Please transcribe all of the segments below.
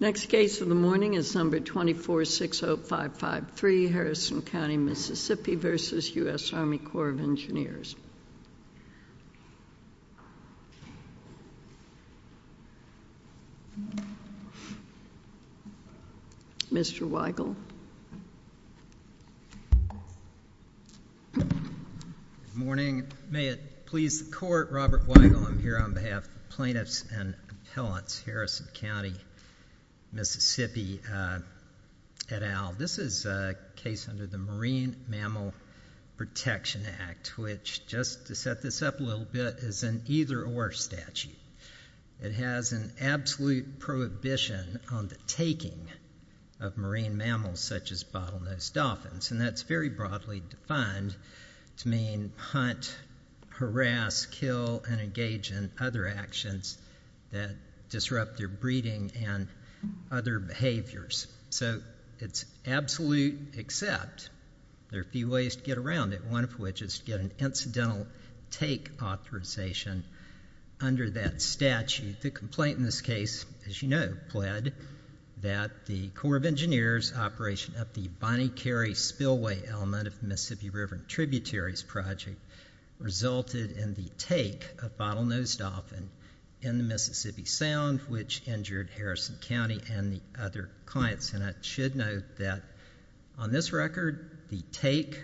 Next case of the morning is number 2460553, Harrison County, Mississippi v. US Army Corps of Engineers. Mr. Weigel. Good morning. May it please the court, Robert Weigel. I'm here on behalf of the plaintiffs and appellants, Harrison County, Mississippi et al. This is a case under the Marine Mammal Protection Act, which, just to set this up a little bit, is an either-or statute. It has an absolute prohibition on the taking of marine mammals such as bottlenose dolphins, and that's very broadly defined to mean hunt, harass, kill, and engage in other actions that disrupt their breeding and other behaviors. So it's absolute, except there are a few ways to get around it, one of which is to get an incidental take authorization under that statute. The complaint in this case, as you know, pled that the Corps of Engineers' operation of the Bonny Cary spillway element of the Mississippi River Tributaries Project resulted in the take of bottlenose dolphins in the Mississippi Sound, which injured Harrison County and the other clients. And I should note that on this record, the take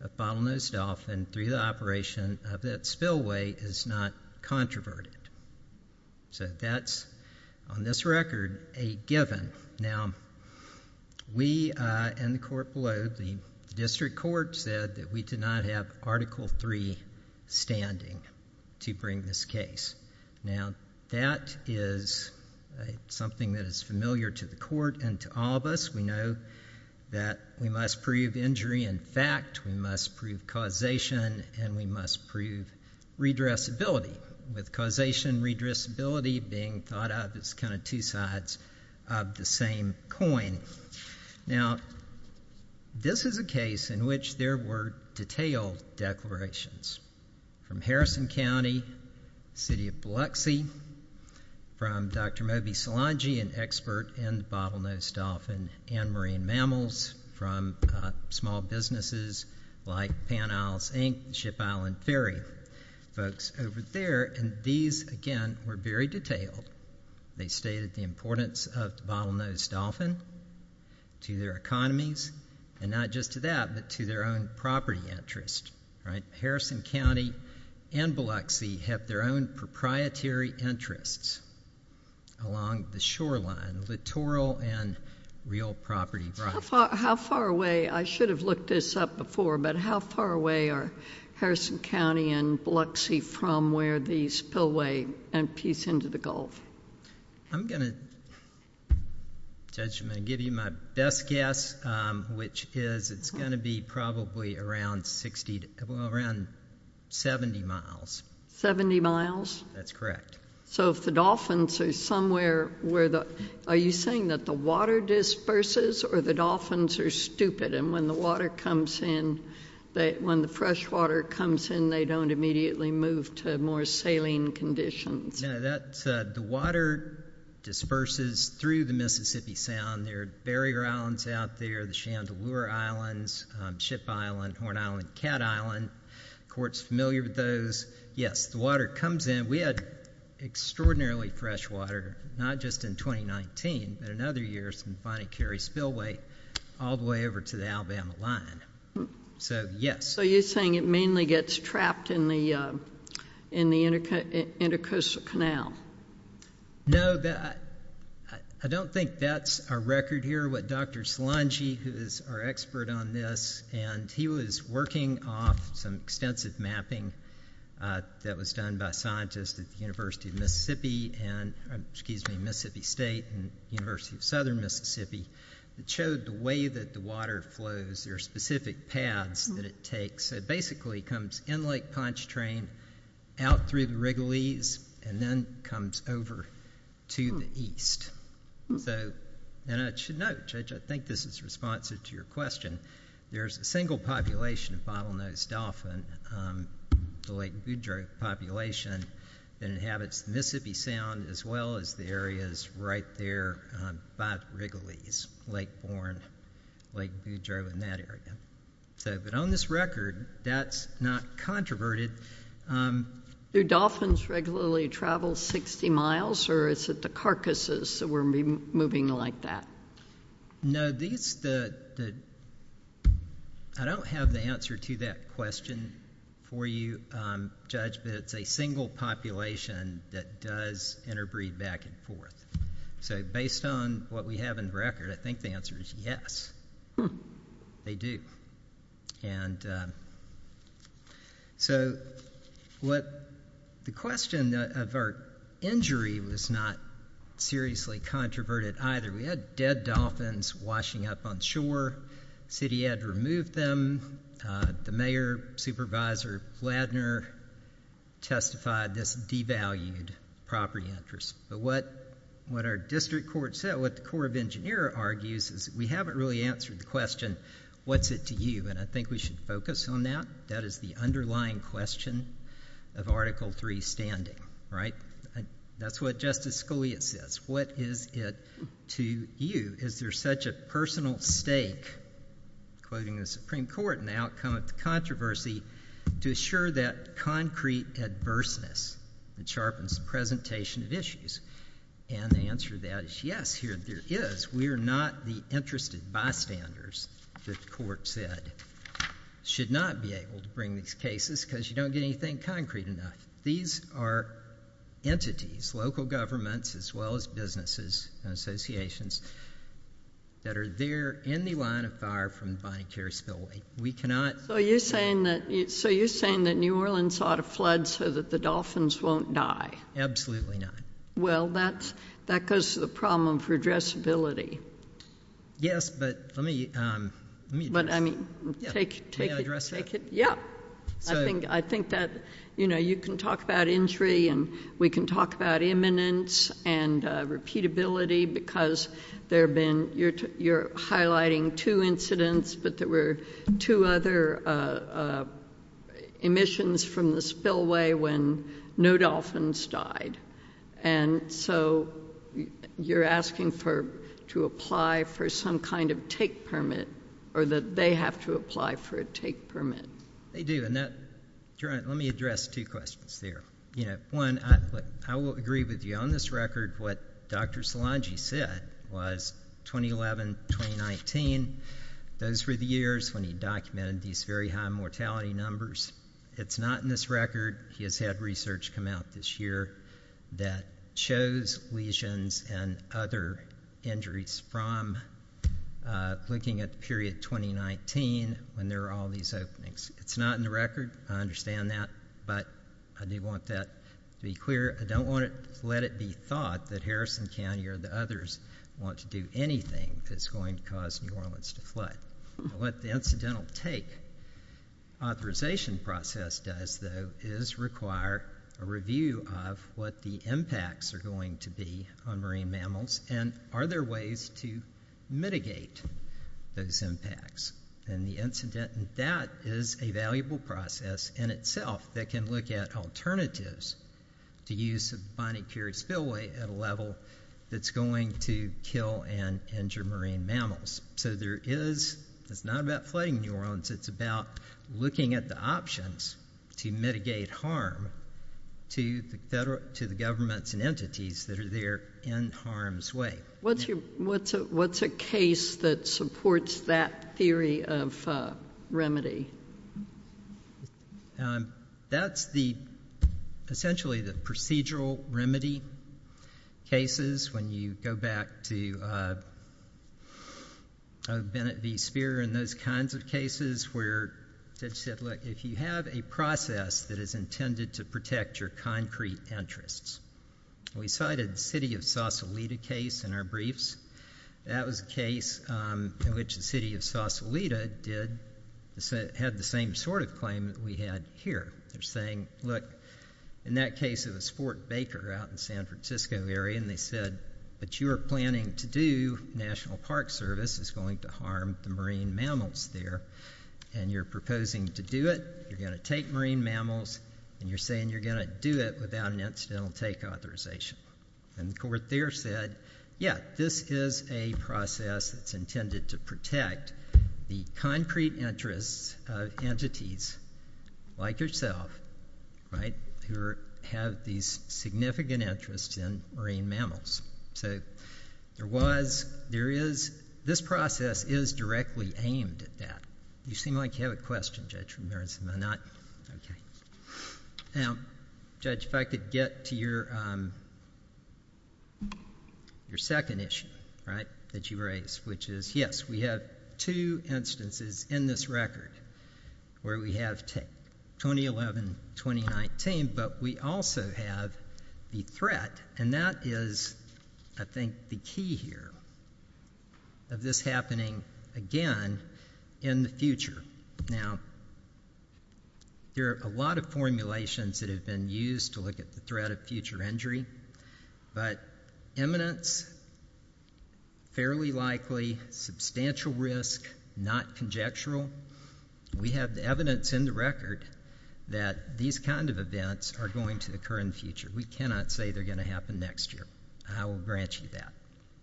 of bottlenose dolphins through the operation of that spillway is not controverted. So that's, on this record, a given. Now, we and the court below, the district court, said that we did not have Article III standing to bring this case. Now, that is something that is familiar to the court and to all of us. We know that we must prove injury in fact, we must prove causation, and we must prove redressability. With causation and redressability being thought of as kind of two sides of the same coin. Now, this is a case in which there were detailed declarations from Harrison County, City of Biloxi, from Dr. Moby Solange, an expert in bottlenose dolphin and marine mammals, from small businesses like Pan Isles Inc., Ship Island Ferry, folks over there. And these, again, were very detailed. They stated the importance of the bottlenose dolphin to their economies, and not just to that, but to their own property interest. Right? Harrison County and Biloxi have their own proprietary interests along the shoreline, littoral and real property rights. How far away, I should have looked this up before, but how far away are Harrison County and Biloxi from where the spillway empties into the Gulf? I'm going to, Judge, I'm going to give you my best guess, which is it's going to be probably around 60, well, around 70 miles. 70 miles? That's correct. So if the dolphins are somewhere where the, are you saying that the water disperses, or the dolphins are stupid, and when the water comes in, when the freshwater comes in, they don't immediately move to more saline conditions? No, that's, the water disperses through the Mississippi Sound. There are barrier islands out there, the Chandelure Islands, Ship Island, Horn Island, Cat Island. Court's familiar with those. Yes, the water comes in. We had extraordinarily fresh water, not just in 2019, but in other years, and finally carried spillway all the way over to the Alabama line. So, yes. So you're saying it mainly gets trapped in the intercoastal canal? No, I don't think that's a record here. What Dr. Solangi, who is our expert on this, and he was working off some extensive mapping that was done by scientists at the University of Mississippi, and, excuse me, Mississippi State and University of Southern Mississippi, showed the way that the water flows, there are specific paths that it takes. So it basically comes in Lake Pontchartrain, out through the Wrigleys, and then comes over to the east. So, and I should note, Judge, I think this is responsive to your question, there's a single population of bottlenose dolphin, the Lake Boudreau population, that inhabits the Mississippi Sound, as well as the areas right there by the Wrigleys, Lake Bourne, Lake Boudreau, and that area. So, but on this record, that's not controverted. Do dolphins regularly travel 60 miles, or is it the carcasses that were moving like that? No, these, the, I don't have the answer to that question for you, Judge, but it's a single population that does interbreed back and forth. So based on what we have in record, I think the answer is yes, they do. And so what, the question of our injury was not seriously controverted either. We had dead dolphins washing up on shore. The city had to remove them. The mayor, Supervisor Ladner, testified this devalued property interest. But what our district court said, what the Corps of Engineers argues, is we haven't really answered the question, what's it to you? And I think we should focus on that. That is the underlying question of Article III standing, right? That's what Justice Scalia says. What is it to you? Is there such a personal stake, quoting the Supreme Court in the outcome of the controversy, to assure that concrete adverseness that sharpens the presentation of issues? And the answer to that is yes, there is. We are not the interested bystanders that the court said should not be able to bring these cases because you don't get anything concrete enough. These are entities, local governments as well as businesses and associations, that are there in the line of fire from the Bonne Care spillway. So you're saying that New Orleans ought to flood so that the dolphins won't die? Absolutely not. Well, that goes to the problem for addressability. Yes, but let me address that. May I address that? Yeah. I think that you can talk about injury and we can talk about imminence and repeatability because you're highlighting two incidents, but there were two other emissions from the spillway when no dolphins died. And so you're asking to apply for some kind of take permit, or that they have to apply for a take permit. They do, and let me address two questions there. One, I will agree with you on this record, what Dr. Szilagyi said was 2011-2019, those were the years when he documented these very high mortality numbers. It's not in this record. He has had research come out this year that shows lesions and other injuries from looking at the period 2019 when there were all these openings. It's not in the record. I understand that, but I do want that to be clear. I don't want to let it be thought that Harrison County or the others want to do anything that's going to cause New Orleans to flood. What the incidental take authorization process does, though, is require a review of what the impacts are going to be on marine mammals and are there ways to mitigate those impacts. And that is a valuable process in itself that can look at alternatives to use a binocular spillway at a level that's going to kill and injure marine mammals. So it's not about flooding New Orleans. It's about looking at the options to mitigate harm to the governments and entities that are there in harm's way. What's a case that supports that theory of remedy? That's essentially the procedural remedy cases. When you go back to Bennett v. Speer and those kinds of cases where they said, look, if you have a process that is intended to protect your concrete interests, we cited the city of Sausalito case in our briefs. That was a case in which the city of Sausalito had the same sort of claim that we had here. They're saying, look, in that case it was Fort Baker out in the San Francisco area, and they said what you are planning to do, National Park Service, is going to harm the marine mammals there. And you're proposing to do it. You're going to take marine mammals, and you're saying you're going to do it without an incidental take authorization. And the court there said, yeah, this is a process that's intended to protect the concrete interests of entities like yourself, right, who have these significant interests in marine mammals. So there was, there is, this process is directly aimed at that. You seem like you have a question, Judge Ramirez. Am I not? Now, Judge, if I could get to your second issue, right, that you raised, which is, yes, we have two instances in this record where we have 2011-2019, but we also have the threat, and that is, I think, the key here, of this happening again in the future. Now, there are a lot of formulations that have been used to look at the threat of future injury, but imminence, fairly likely, substantial risk, not conjectural. We have the evidence in the record that these kind of events are going to occur in the future. We cannot say they're going to happen next year. I will grant you that.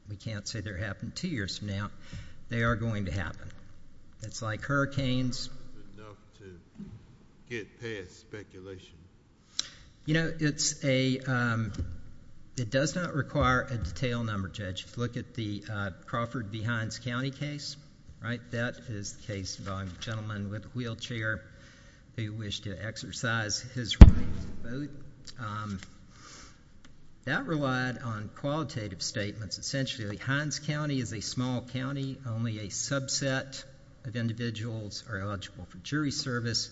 We can't say they're going to happen two years from now. They are going to happen. It's like hurricanes. Enough to get past speculation. You know, it does not require a detailed number, Judge. Look at the Crawford v. Hines County case, right? That is the case involving a gentleman with a wheelchair who wished to exercise his right to vote. That relied on qualitative statements. Essentially, Hines County is a small county, only a subset of individuals are eligible for jury service,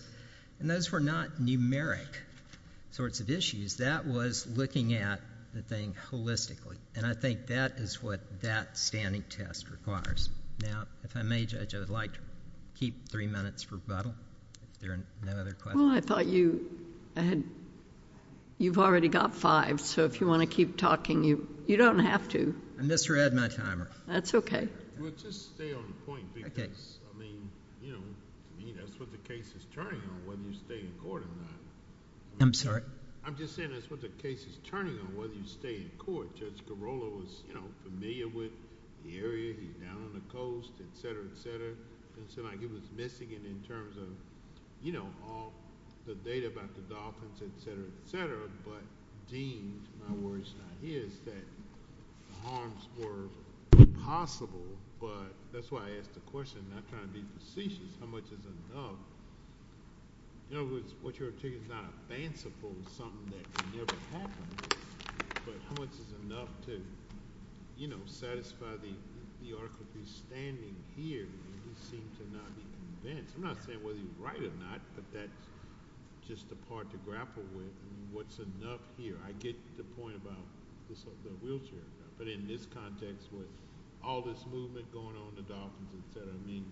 and those were not numeric sorts of issues. That was looking at the thing holistically, and I think that is what that standing test requires. Now, if I may, Judge, I would like to keep three minutes for rebuttal. If there are no other questions. Well, I thought you've already got five, so if you want to keep talking, you don't have to. I misread my timer. That's okay. We'll just stay on the point because, I mean, you know, that's what the case is turning on, whether you stay in court or not. I'm sorry? I'm just saying that's what the case is turning on, whether you stay in court. Judge Garola was, you know, familiar with the area. He's down on the coast, et cetera, et cetera. It looks like he was missing it in terms of, you know, all the data about the dolphins, et cetera, et cetera. I'm not saying whether he's right or not, but that's just the part to grapple with. What's enough here? I get the point about the wheelchair, but in this context with all this movement going on in the dolphins, et cetera, I mean.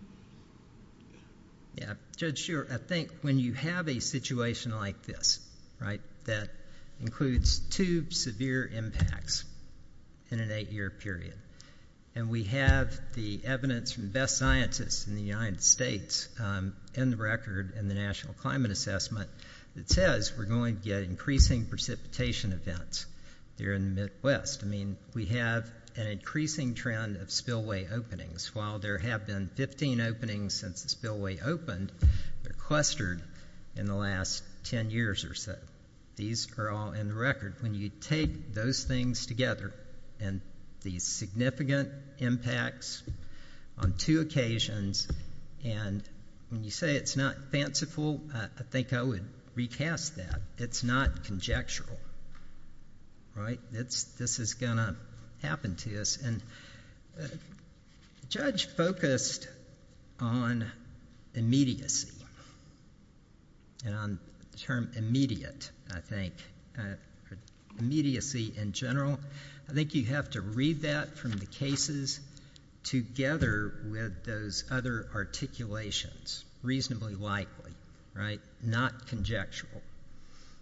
Yeah, Judge, sure. I think when you have a situation like this, right, that includes two severe impacts in an eight-year period, and we have the evidence from the best scientists in the United States in the record in the National Climate Assessment that says we're going to get increasing precipitation events here in the Midwest. I mean, we have an increasing trend of spillway openings. While there have been 15 openings since the spillway opened, they're clustered in the last 10 years or so. These are all in the record. When you take those things together and these significant impacts on two occasions, and when you say it's not fanciful, I think I would recast that. It's not conjectural, right? This is going to happen to us. And the judge focused on immediacy and on the term immediate, I think, immediacy in general. I think you have to read that from the cases together with those other articulations reasonably likely, right, not conjectural.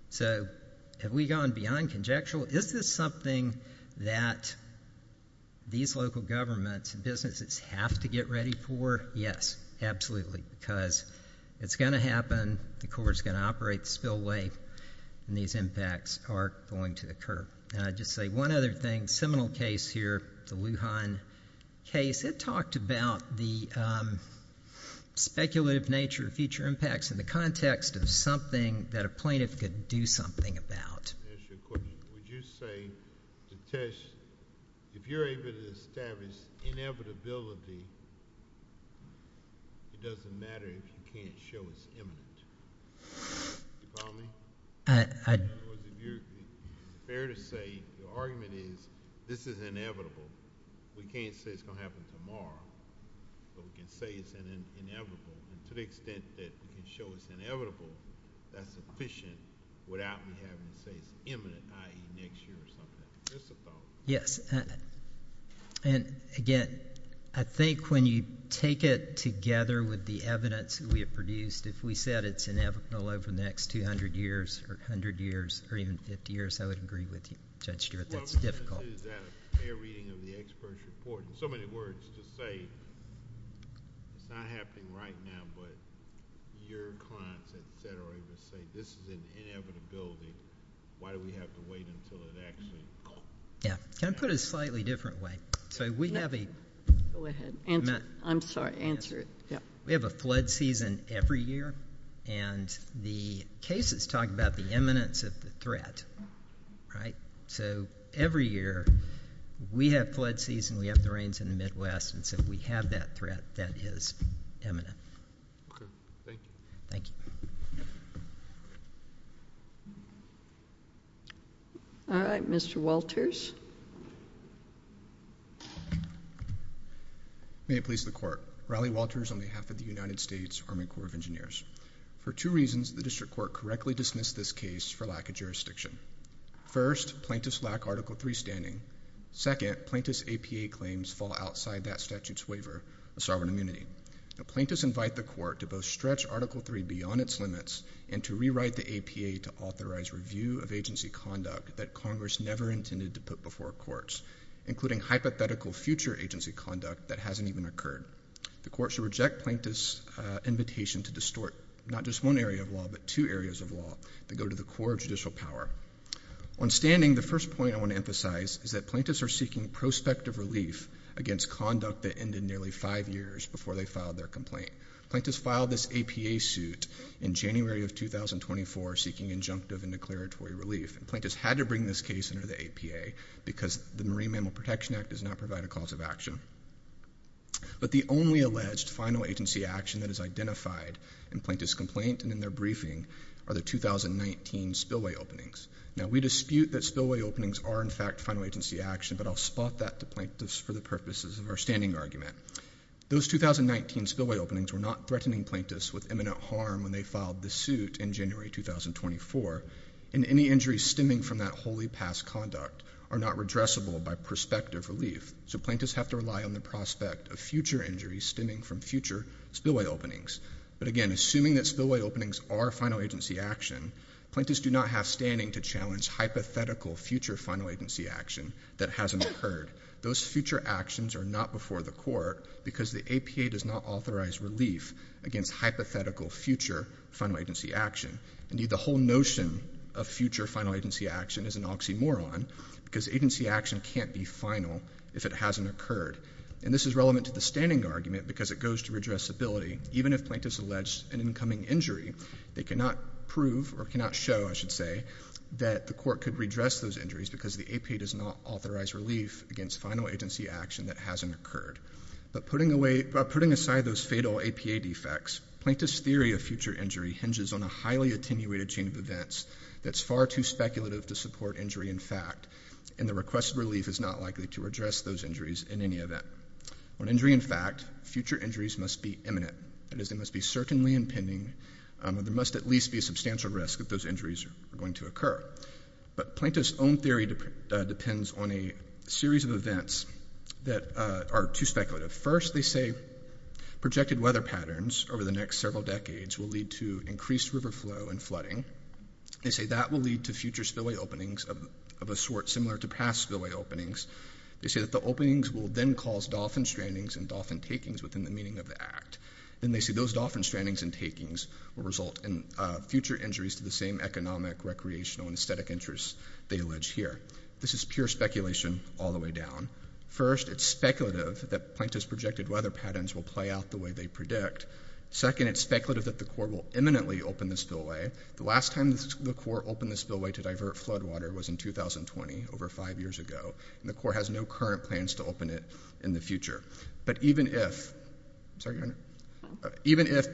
So have we gone beyond conjectural? Is this something that these local governments and businesses have to get ready for? Yes, absolutely, because it's going to happen. The Corps is going to operate the spillway, and these impacts are going to occur. And I'll just say one other thing, a seminal case here, the Wuhan case, it talked about the speculative nature of future impacts in the context of something that a plaintiff could do something about. I have a question. Would you say the test, if you're able to establish inevitability, it doesn't matter if you can't show us evidence? Do you follow me? In other words, is it fair to say the argument is this is inevitable? We can't say it's going to happen tomorrow, but we can say it's inevitable. To the extent that we can show it's inevitable, that's sufficient without having to say it's imminent, i.e. next year or something. Yes. Again, I think when you take it together with the evidence we have produced, if we said it's inevitable over the next 200 years or 100 years or even 50 years, I would agree with you, Judge Stewart. That's difficult. Is that a fair reading of the expert's report? In so many words, to say it's not happening right now, but your clients, et cetera, to say this is an inevitability, why do we have to wait until it actually happens? Can I put it a slightly different way? Go ahead. I'm sorry. Answer it. We have a flood season every year, and the cases talk about the imminence of the threat. Every year we have flood season, we have the rains in the Midwest, and so if we have that threat, that is imminent. Okay. Thank you. Thank you. All right. Mr. Walters. May it please the Court. Raleigh Walters on behalf of the United States Army Corps of Engineers. For two reasons, the district court correctly dismissed this case for lack of jurisdiction. First, plaintiffs lack Article III standing. Second, plaintiffs' APA claims fall outside that statute's waiver of sovereign immunity. Plaintiffs invite the court to both stretch Article III beyond its limits and to rewrite the APA to authorize review of agency conduct that Congress never intended to put before courts, including hypothetical future agency conduct that hasn't even occurred. The court should reject plaintiffs' invitation to distort not just one area of law, but two areas of law that go to the core of judicial power. On standing, the first point I want to emphasize is that plaintiffs are seeking prospective relief against conduct that ended nearly five years before they filed their complaint. Plaintiffs filed this APA suit in January of 2024 seeking injunctive and declaratory relief, and plaintiffs had to bring this case under the APA because the Marine Mammal Protection Act does not provide a cause of action. But the only alleged final agency action that is identified in plaintiffs' complaint and in their briefing are the 2019 spillway openings. Now, we dispute that spillway openings are, in fact, final agency action, but I'll spot that to plaintiffs for the purposes of our standing argument. Those 2019 spillway openings were not threatening plaintiffs with imminent harm when they filed the suit in January 2024, and any injuries stemming from that wholly past conduct are not redressable by prospective relief, so plaintiffs have to rely on the prospect of future injuries stemming from future spillway openings. But again, assuming that spillway openings are final agency action, plaintiffs do not have standing to challenge hypothetical future final agency action that hasn't occurred. Those future actions are not before the court because the APA does not authorize relief against hypothetical future final agency action. Indeed, the whole notion of future final agency action is an oxymoron because agency action can't be final if it hasn't occurred, and this is relevant to the standing argument because it goes to redressability. Even if plaintiffs allege an incoming injury, they cannot prove, or cannot show, I should say, that the court could redress those injuries because the APA does not authorize relief against final agency action that hasn't occurred. But putting aside those fatal APA defects, plaintiffs' theory of future injury hinges on a highly attenuated chain of events that's far too speculative to support injury in fact, and the requested relief is not likely to address those injuries in any event. On injury in fact, future injuries must be imminent. That is, they must be certainly impending, and there must at least be a substantial risk that those injuries are going to occur. But plaintiffs' own theory depends on a series of events that are too speculative. First, they say projected weather patterns over the next several decades will lead to increased river flow and flooding. They say that will lead to future spillway openings of a sort similar to past spillway openings. They say that the openings will then cause dolphin strandings and dolphin takings within the meaning of the act. Then they say those dolphin strandings and takings will result in future injuries to the same economic, recreational, and aesthetic interests they allege here. This is pure speculation all the way down. First, it's speculative that plaintiffs' projected weather patterns will play out the way they predict. Second, it's speculative that the court will imminently open the spillway. The last time the court opened the spillway to divert flood water was in 2020, over five years ago, and the court has no current plans to open it in the future. But even if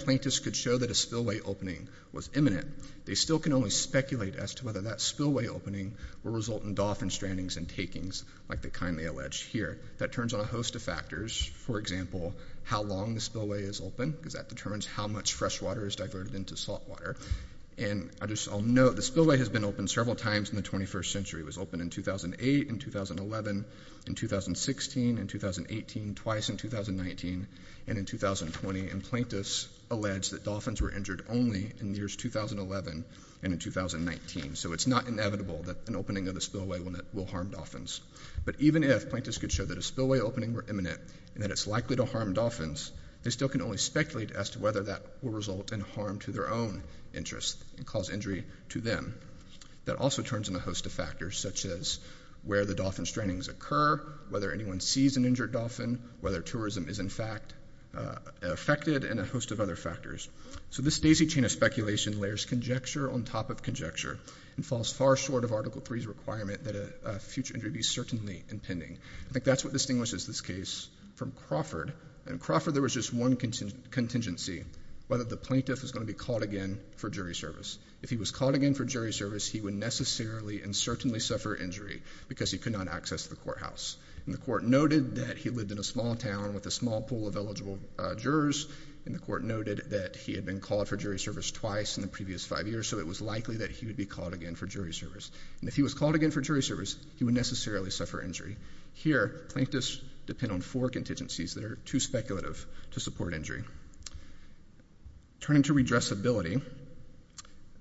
plaintiffs could show that a spillway opening was imminent, they still can only speculate as to whether that spillway opening will result in dolphin strandings and takings like they kindly allege here. That turns on a host of factors. For example, how long the spillway is open, because that determines how much fresh water is diverted into salt water. I'll note the spillway has been open several times in the 21st century. It was open in 2008, in 2011, in 2016, in 2018, twice in 2019, and in 2020. Plaintiffs allege that dolphins were injured only in the years 2011 and in 2019. So it's not inevitable that an opening of the spillway will harm dolphins. But even if plaintiffs could show that a spillway opening were imminent and that it's likely to harm dolphins, they still can only speculate as to whether that will result in harm to their own interests and cause injury to them. That also turns on a host of factors, such as where the dolphin strandings occur, whether anyone sees an injured dolphin, whether tourism is, in fact, affected, and a host of other factors. So this daisy chain of speculation layers conjecture on top of conjecture and falls far short of Article III's requirement that a future injury be certainly impending. I think that's what distinguishes this case from Crawford. In Crawford, there was just one contingency, whether the plaintiff was going to be called again for jury service. If he was called again for jury service, he would necessarily and certainly suffer injury because he could not access the courthouse. And the court noted that he lived in a small town with a small pool of eligible jurors, and the court noted that he had been called for jury service twice in the previous five years, so it was likely that he would be called again for jury service. And if he was called again for jury service, he would necessarily suffer injury. Here, plaintiffs depend on four contingencies that are too speculative to support injury. Turning to redressability,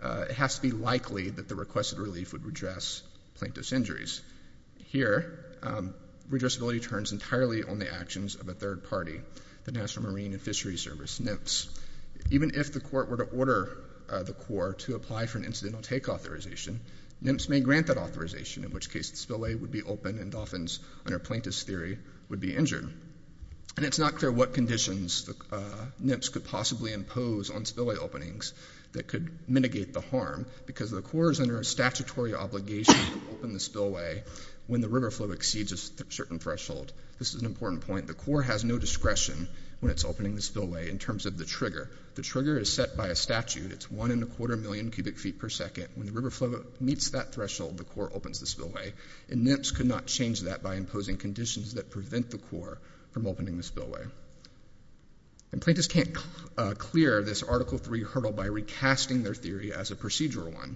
it has to be likely that the requested relief would redress plaintiff's injuries. Here, redressability turns entirely on the actions of a third party, the National Marine and Fishery Service, NMFS. Even if the court were to order the Corps to apply for an incidental take authorization, NMFS may grant that authorization, in which case the spillway would be open and dolphins under plaintiff's theory would be injured. And it's not clear what conditions NMFS could possibly impose on spillway openings that could mitigate the harm because the Corps is under a statutory obligation to open the spillway when the river flow exceeds a certain threshold. This is an important point. The Corps has no discretion when it's opening the spillway in terms of the trigger. The trigger is set by a statute. It's one and a quarter million cubic feet per second. When the river flow meets that threshold, the Corps opens the spillway, and NMFS could not change that by imposing conditions that prevent the Corps from opening the spillway. And plaintiffs can't clear this Article III hurdle by recasting their theory as a procedural one.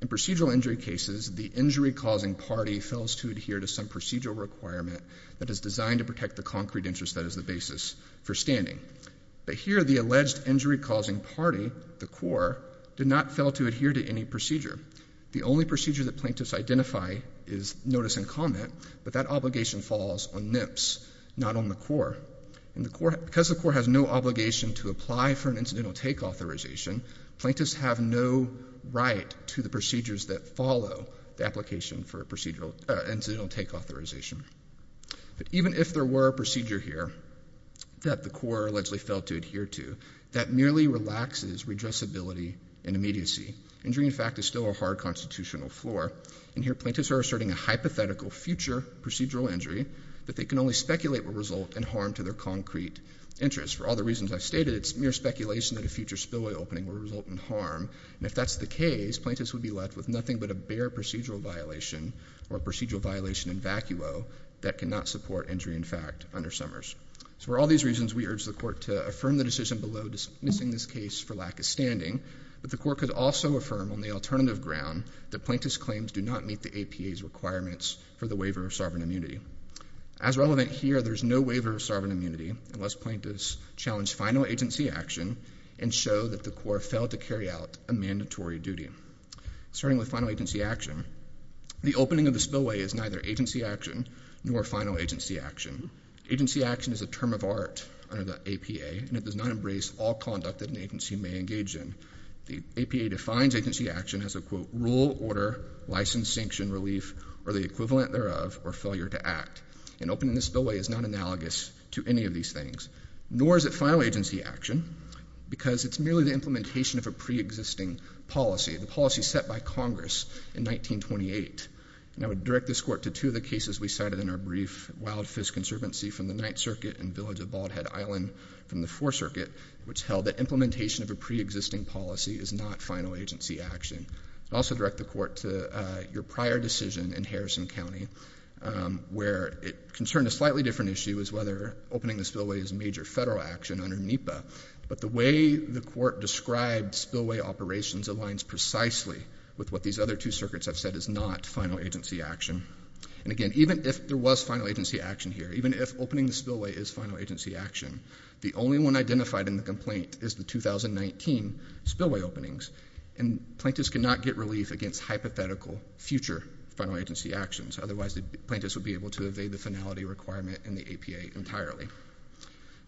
In procedural injury cases, the injury-causing party fails to adhere to some procedural requirement that is designed to protect the concrete interest that is the basis for standing. But here the alleged injury-causing party, the Corps, did not fail to adhere to any procedure. The only procedure that plaintiffs identify is notice and comment, but that obligation falls on NMFS, not on the Corps. Because the Corps has no obligation to apply for an incidental take authorization, plaintiffs have no right to the procedures that follow the application for incidental take authorization. But even if there were a procedure here that the Corps allegedly failed to adhere to, that merely relaxes redressability and immediacy. Injury, in fact, is still a hard constitutional floor. And here plaintiffs are asserting a hypothetical future procedural injury that they can only speculate will result in harm to their concrete interest. For all the reasons I've stated, it's mere speculation that a future spillway opening will result in harm. And if that's the case, plaintiffs would be left with nothing but a bare procedural violation or a procedural violation in vacuo that cannot support injury, in fact, under Summers. So for all these reasons, we urge the Court to affirm the decision below dismissing this case for lack of standing. But the Court could also affirm on the alternative ground that plaintiffs' claims do not meet the APA's requirements for the waiver of sovereign immunity. As relevant here, there's no waiver of sovereign immunity unless plaintiffs challenge final agency action and show that the Corps failed to carry out a mandatory duty. Starting with final agency action, the opening of the spillway is neither agency action nor final agency action. Agency action is a term of art under the APA, and it does not embrace all conduct that an agency may engage in. The APA defines agency action as a, quote, rule, order, license, sanction, relief, or the equivalent thereof, or failure to act. An opening of the spillway is not analogous to any of these things, nor is it final agency action, because it's merely the implementation of a preexisting policy, the policy set by Congress in 1928. And I would direct this Court to two of the cases we cited in our brief, Wild Fist Conservancy from the Ninth Circuit and Village of Bald Head Island from the Fourth Circuit, which held that implementation of a preexisting policy is not final agency action. I'd also direct the Court to your prior decision in Harrison County, where it concerned a slightly different issue as whether opening the spillway is major federal action under NEPA. But the way the Court described spillway operations aligns precisely with what these other two circuits have said is not final agency action. And, again, even if there was final agency action here, even if opening the spillway is final agency action, the only one identified in the complaint is the 2019 spillway openings, and plaintiffs cannot get relief against hypothetical future final agency actions. Otherwise, the plaintiffs would be able to evade the finality requirement in the APA entirely.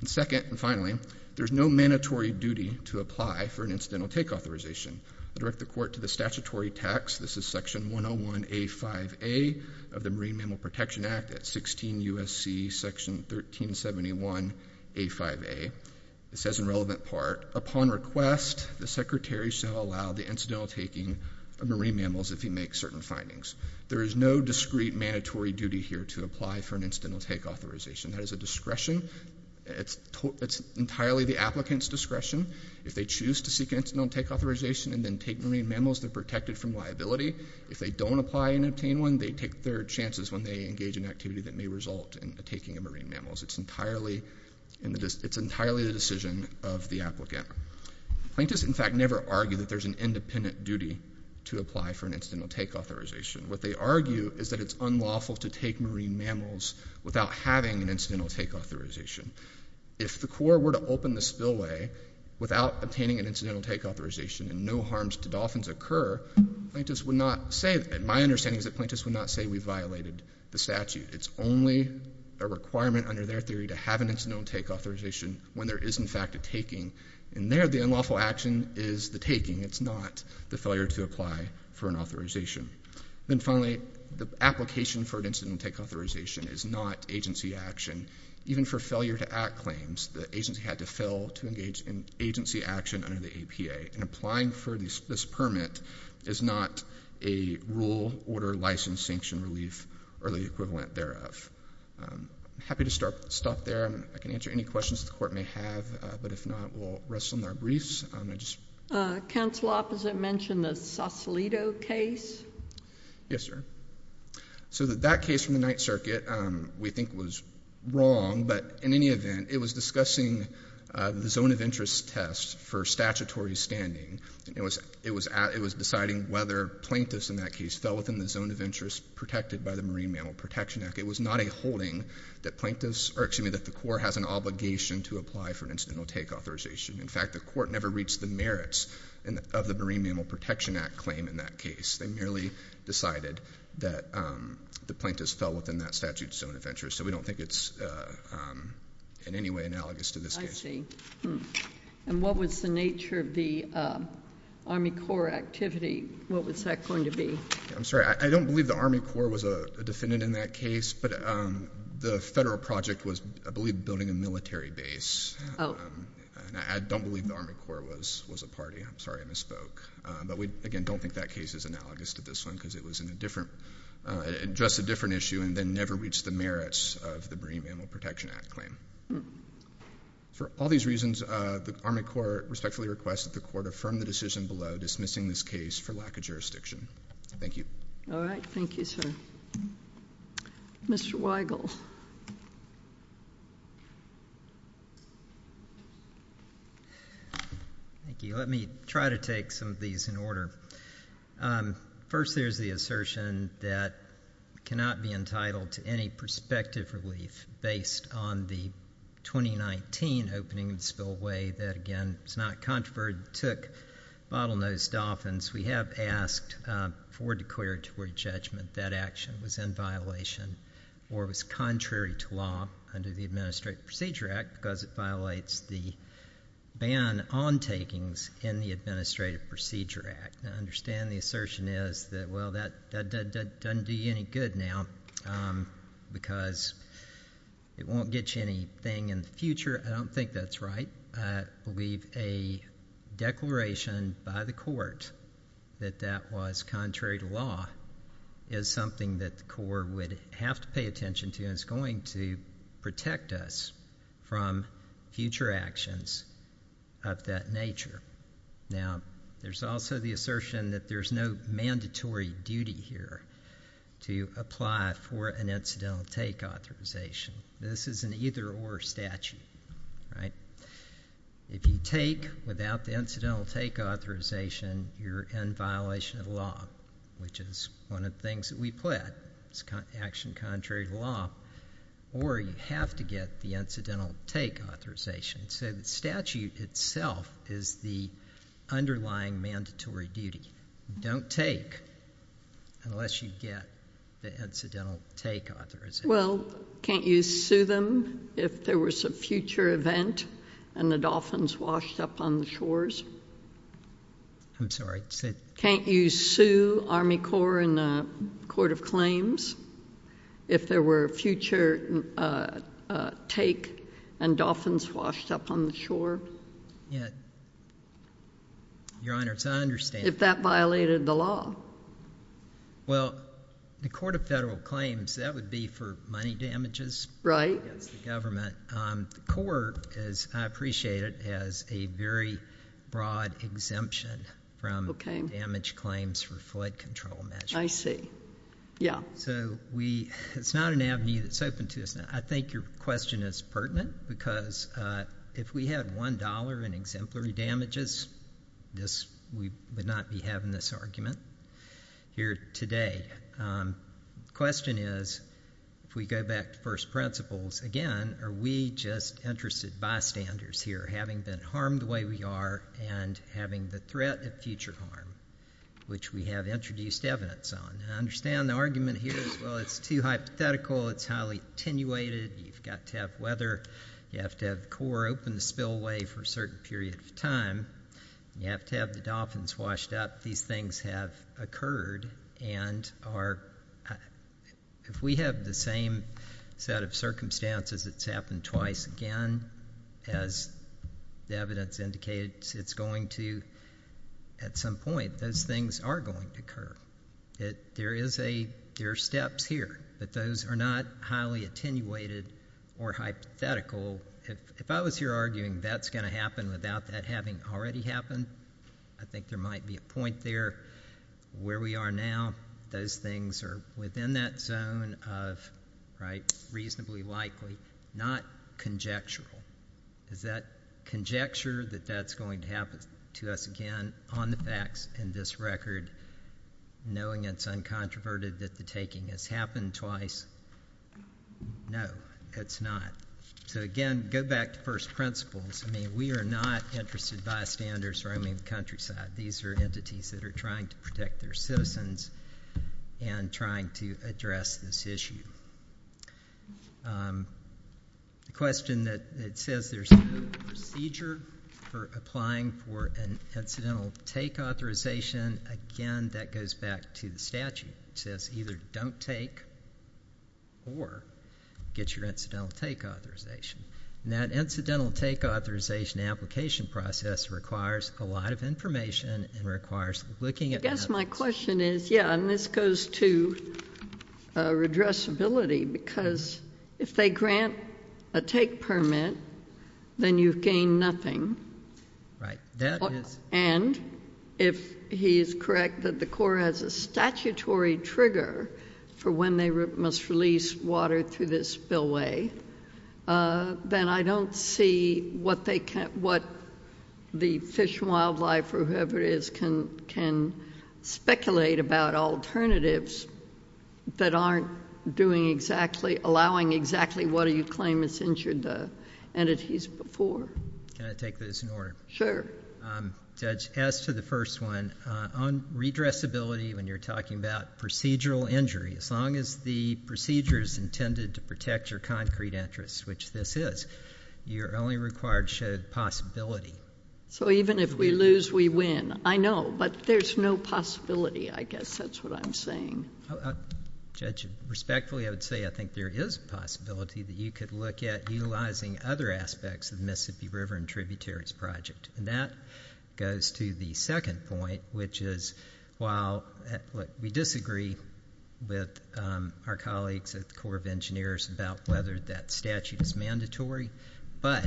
And second and finally, there's no mandatory duty to apply for an incidental take authorization. I direct the Court to the statutory text. This is Section 101A5A of the Marine Mammal Protection Act at 16 U.S.C. Section 1371A5A. It says in relevant part, upon request, the Secretary shall allow the incidental taking of marine mammals if he makes certain findings. There is no discrete mandatory duty here to apply for an incidental take authorization. That is a discretion. It's entirely the applicant's discretion. If they choose to seek an incidental take authorization and then take marine mammals, they're protected from liability. If they don't apply and obtain one, they take their chances when they engage in activity that may result in the taking of marine mammals. It's entirely the decision of the applicant. Plaintiffs, in fact, never argue that there's an independent duty to apply for an incidental take authorization. What they argue is that it's unlawful to take marine mammals without having an incidental take authorization. If the Corps were to open the spillway without obtaining an incidental take authorization and no harms to dolphins occur, plaintiffs would not say that. My understanding is that plaintiffs would not say we violated the statute. It's only a requirement under their theory to have an incidental take authorization when there is, in fact, a taking. And there, the unlawful action is the taking. It's not the failure to apply for an authorization. Then finally, the application for an incidental take authorization is not agency action. Even for failure to act claims, the agency had to fail to engage in agency action under the APA. And applying for this permit is not a rule, order, license, sanction, relief, or the equivalent thereof. I'm happy to stop there. I can answer any questions the Court may have. But if not, we'll rest on our briefs. Counsel opposite mentioned the Sausalito case. Yes, sir. So that case from the Ninth Circuit we think was wrong. But in any event, it was discussing the zone of interest test for statutory standing. It was deciding whether plaintiffs in that case fell within the zone of interest protected by the Marine Mammal Protection Act. It was not a holding that the Corps has an obligation to apply for an incidental take authorization. In fact, the Court never reached the merits of the Marine Mammal Protection Act claim in that case. They merely decided that the plaintiffs fell within that statute zone of interest. So we don't think it's in any way analogous to this case. I see. And what was the nature of the Army Corps activity? What was that going to be? I'm sorry. I don't believe the Army Corps was a defendant in that case. But the federal project was, I believe, building a military base. And I don't believe the Army Corps was a party. I'm sorry I misspoke. But we, again, don't think that case is analogous to this one because it addressed a different issue and then never reached the merits of the Marine Mammal Protection Act claim. For all these reasons, the Army Corps respectfully requests that the Court affirm the decision below dismissing this case for lack of jurisdiction. Thank you. All right. Thank you, sir. Mr. Weigel. Thank you. Let me try to take some of these in order. First, there's the assertion that cannot be entitled to any prospective relief based on the 2019 opening of the spillway that, again, it's not controversial, took bottlenose dolphins. We have asked for declaratory judgment that action was in violation or was contrary to law under the Administrative Procedure Act because it violates the ban on takings in the Administrative Procedure Act. I understand the assertion is that, well, that doesn't do you any good now because it won't get you anything in the future. I don't think that's right. I believe a declaration by the Court that that was contrary to law is something that the Corps would have to pay attention to and is going to protect us from future actions of that nature. Now, there's also the assertion that there's no mandatory duty here to apply for an incidental take authorization. This is an either-or statute. If you take without the incidental take authorization, you're in violation of the law, which is one of the things that we put. It's action contrary to law. Or you have to get the incidental take authorization. So the statute itself is the underlying mandatory duty. Don't take unless you get the incidental take authorization. Well, can't you sue them if there was a future event and the dolphins washed up on the shores? I'm sorry? Can't you sue Army Corps and the Court of Claims if there were a future take and dolphins washed up on the shore? Yeah. Your Honor, I understand. If that violated the law. Well, the Court of Federal Claims, that would be for money damages. Right. Against the government. The court, as I appreciate it, has a very broad exemption from damage claims for flood control measures. I see. Yeah. So it's not an avenue that's open to us. I think your question is pertinent because if we had $1 in exemplary damages, we would not be having this argument here today. The question is, if we go back to first principles again, are we just interested bystanders here, having been harmed the way we are and having the threat of future harm, which we have introduced evidence on? I understand the argument here is, well, it's too hypothetical. It's highly attenuated. You've got to have weather. You have to have the Corps open the spillway for a certain period of time. You have to have the dolphins washed up. These things have occurred and if we have the same set of circumstances, it's happened twice again, as the evidence indicates, it's going to at some point, those things are going to occur. There are steps here, but those are not highly attenuated or hypothetical. If I was here arguing that's going to happen without that having already happened, I think there might be a point there where we are now. Those things are within that zone of reasonably likely, not conjectural. Is that conjecture that that's going to happen to us again on the facts in this record, knowing it's uncontroverted that the taking has happened twice? No, it's not. So, again, go back to first principles. I mean, we are not interested bystanders roaming the countryside. These are entities that are trying to protect their citizens and trying to address this issue. The question that says there's no procedure for applying for an incidental take authorization, again, that goes back to the statute. It says either don't take or get your incidental take authorization. And that incidental take authorization application process requires a lot of information and requires looking at the evidence. I guess my question is, yeah, and this goes to redressability, because if they grant a take permit, then you gain nothing. And if he is correct that the Corps has a statutory trigger for when they must release water through this spillway, then I don't see what the Fish and Wildlife or whoever it is can speculate about alternatives that aren't allowing exactly what you claim has injured the entities before. Can I take this in order? Sure. Judge, as to the first one, on redressability, when you're talking about procedural injury, as long as the procedure is intended to protect your concrete interests, which this is, you're only required to show the possibility. So even if we lose, we win. I know, but there's no possibility, I guess. That's what I'm saying. Judge, respectfully, I would say I think there is a possibility that you could look at utilizing other aspects of the Mississippi River and Tributaries Project. And that goes to the second point, which is while we disagree with our colleagues at the Corps of Engineers about whether that statute is mandatory, but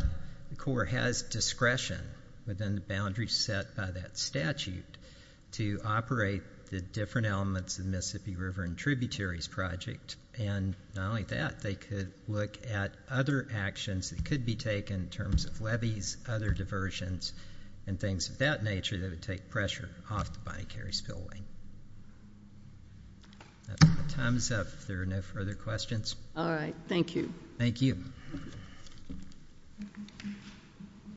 the Corps has discretion within the boundaries set by that statute to operate the different elements of the Mississippi River and Tributaries Project. And not only that, they could look at other actions that could be taken in terms of levees, other diversions, and things of that nature that would take pressure off the bonnet carry spillway. Time is up. If there are no further questions. All right. Thank you. Thank you.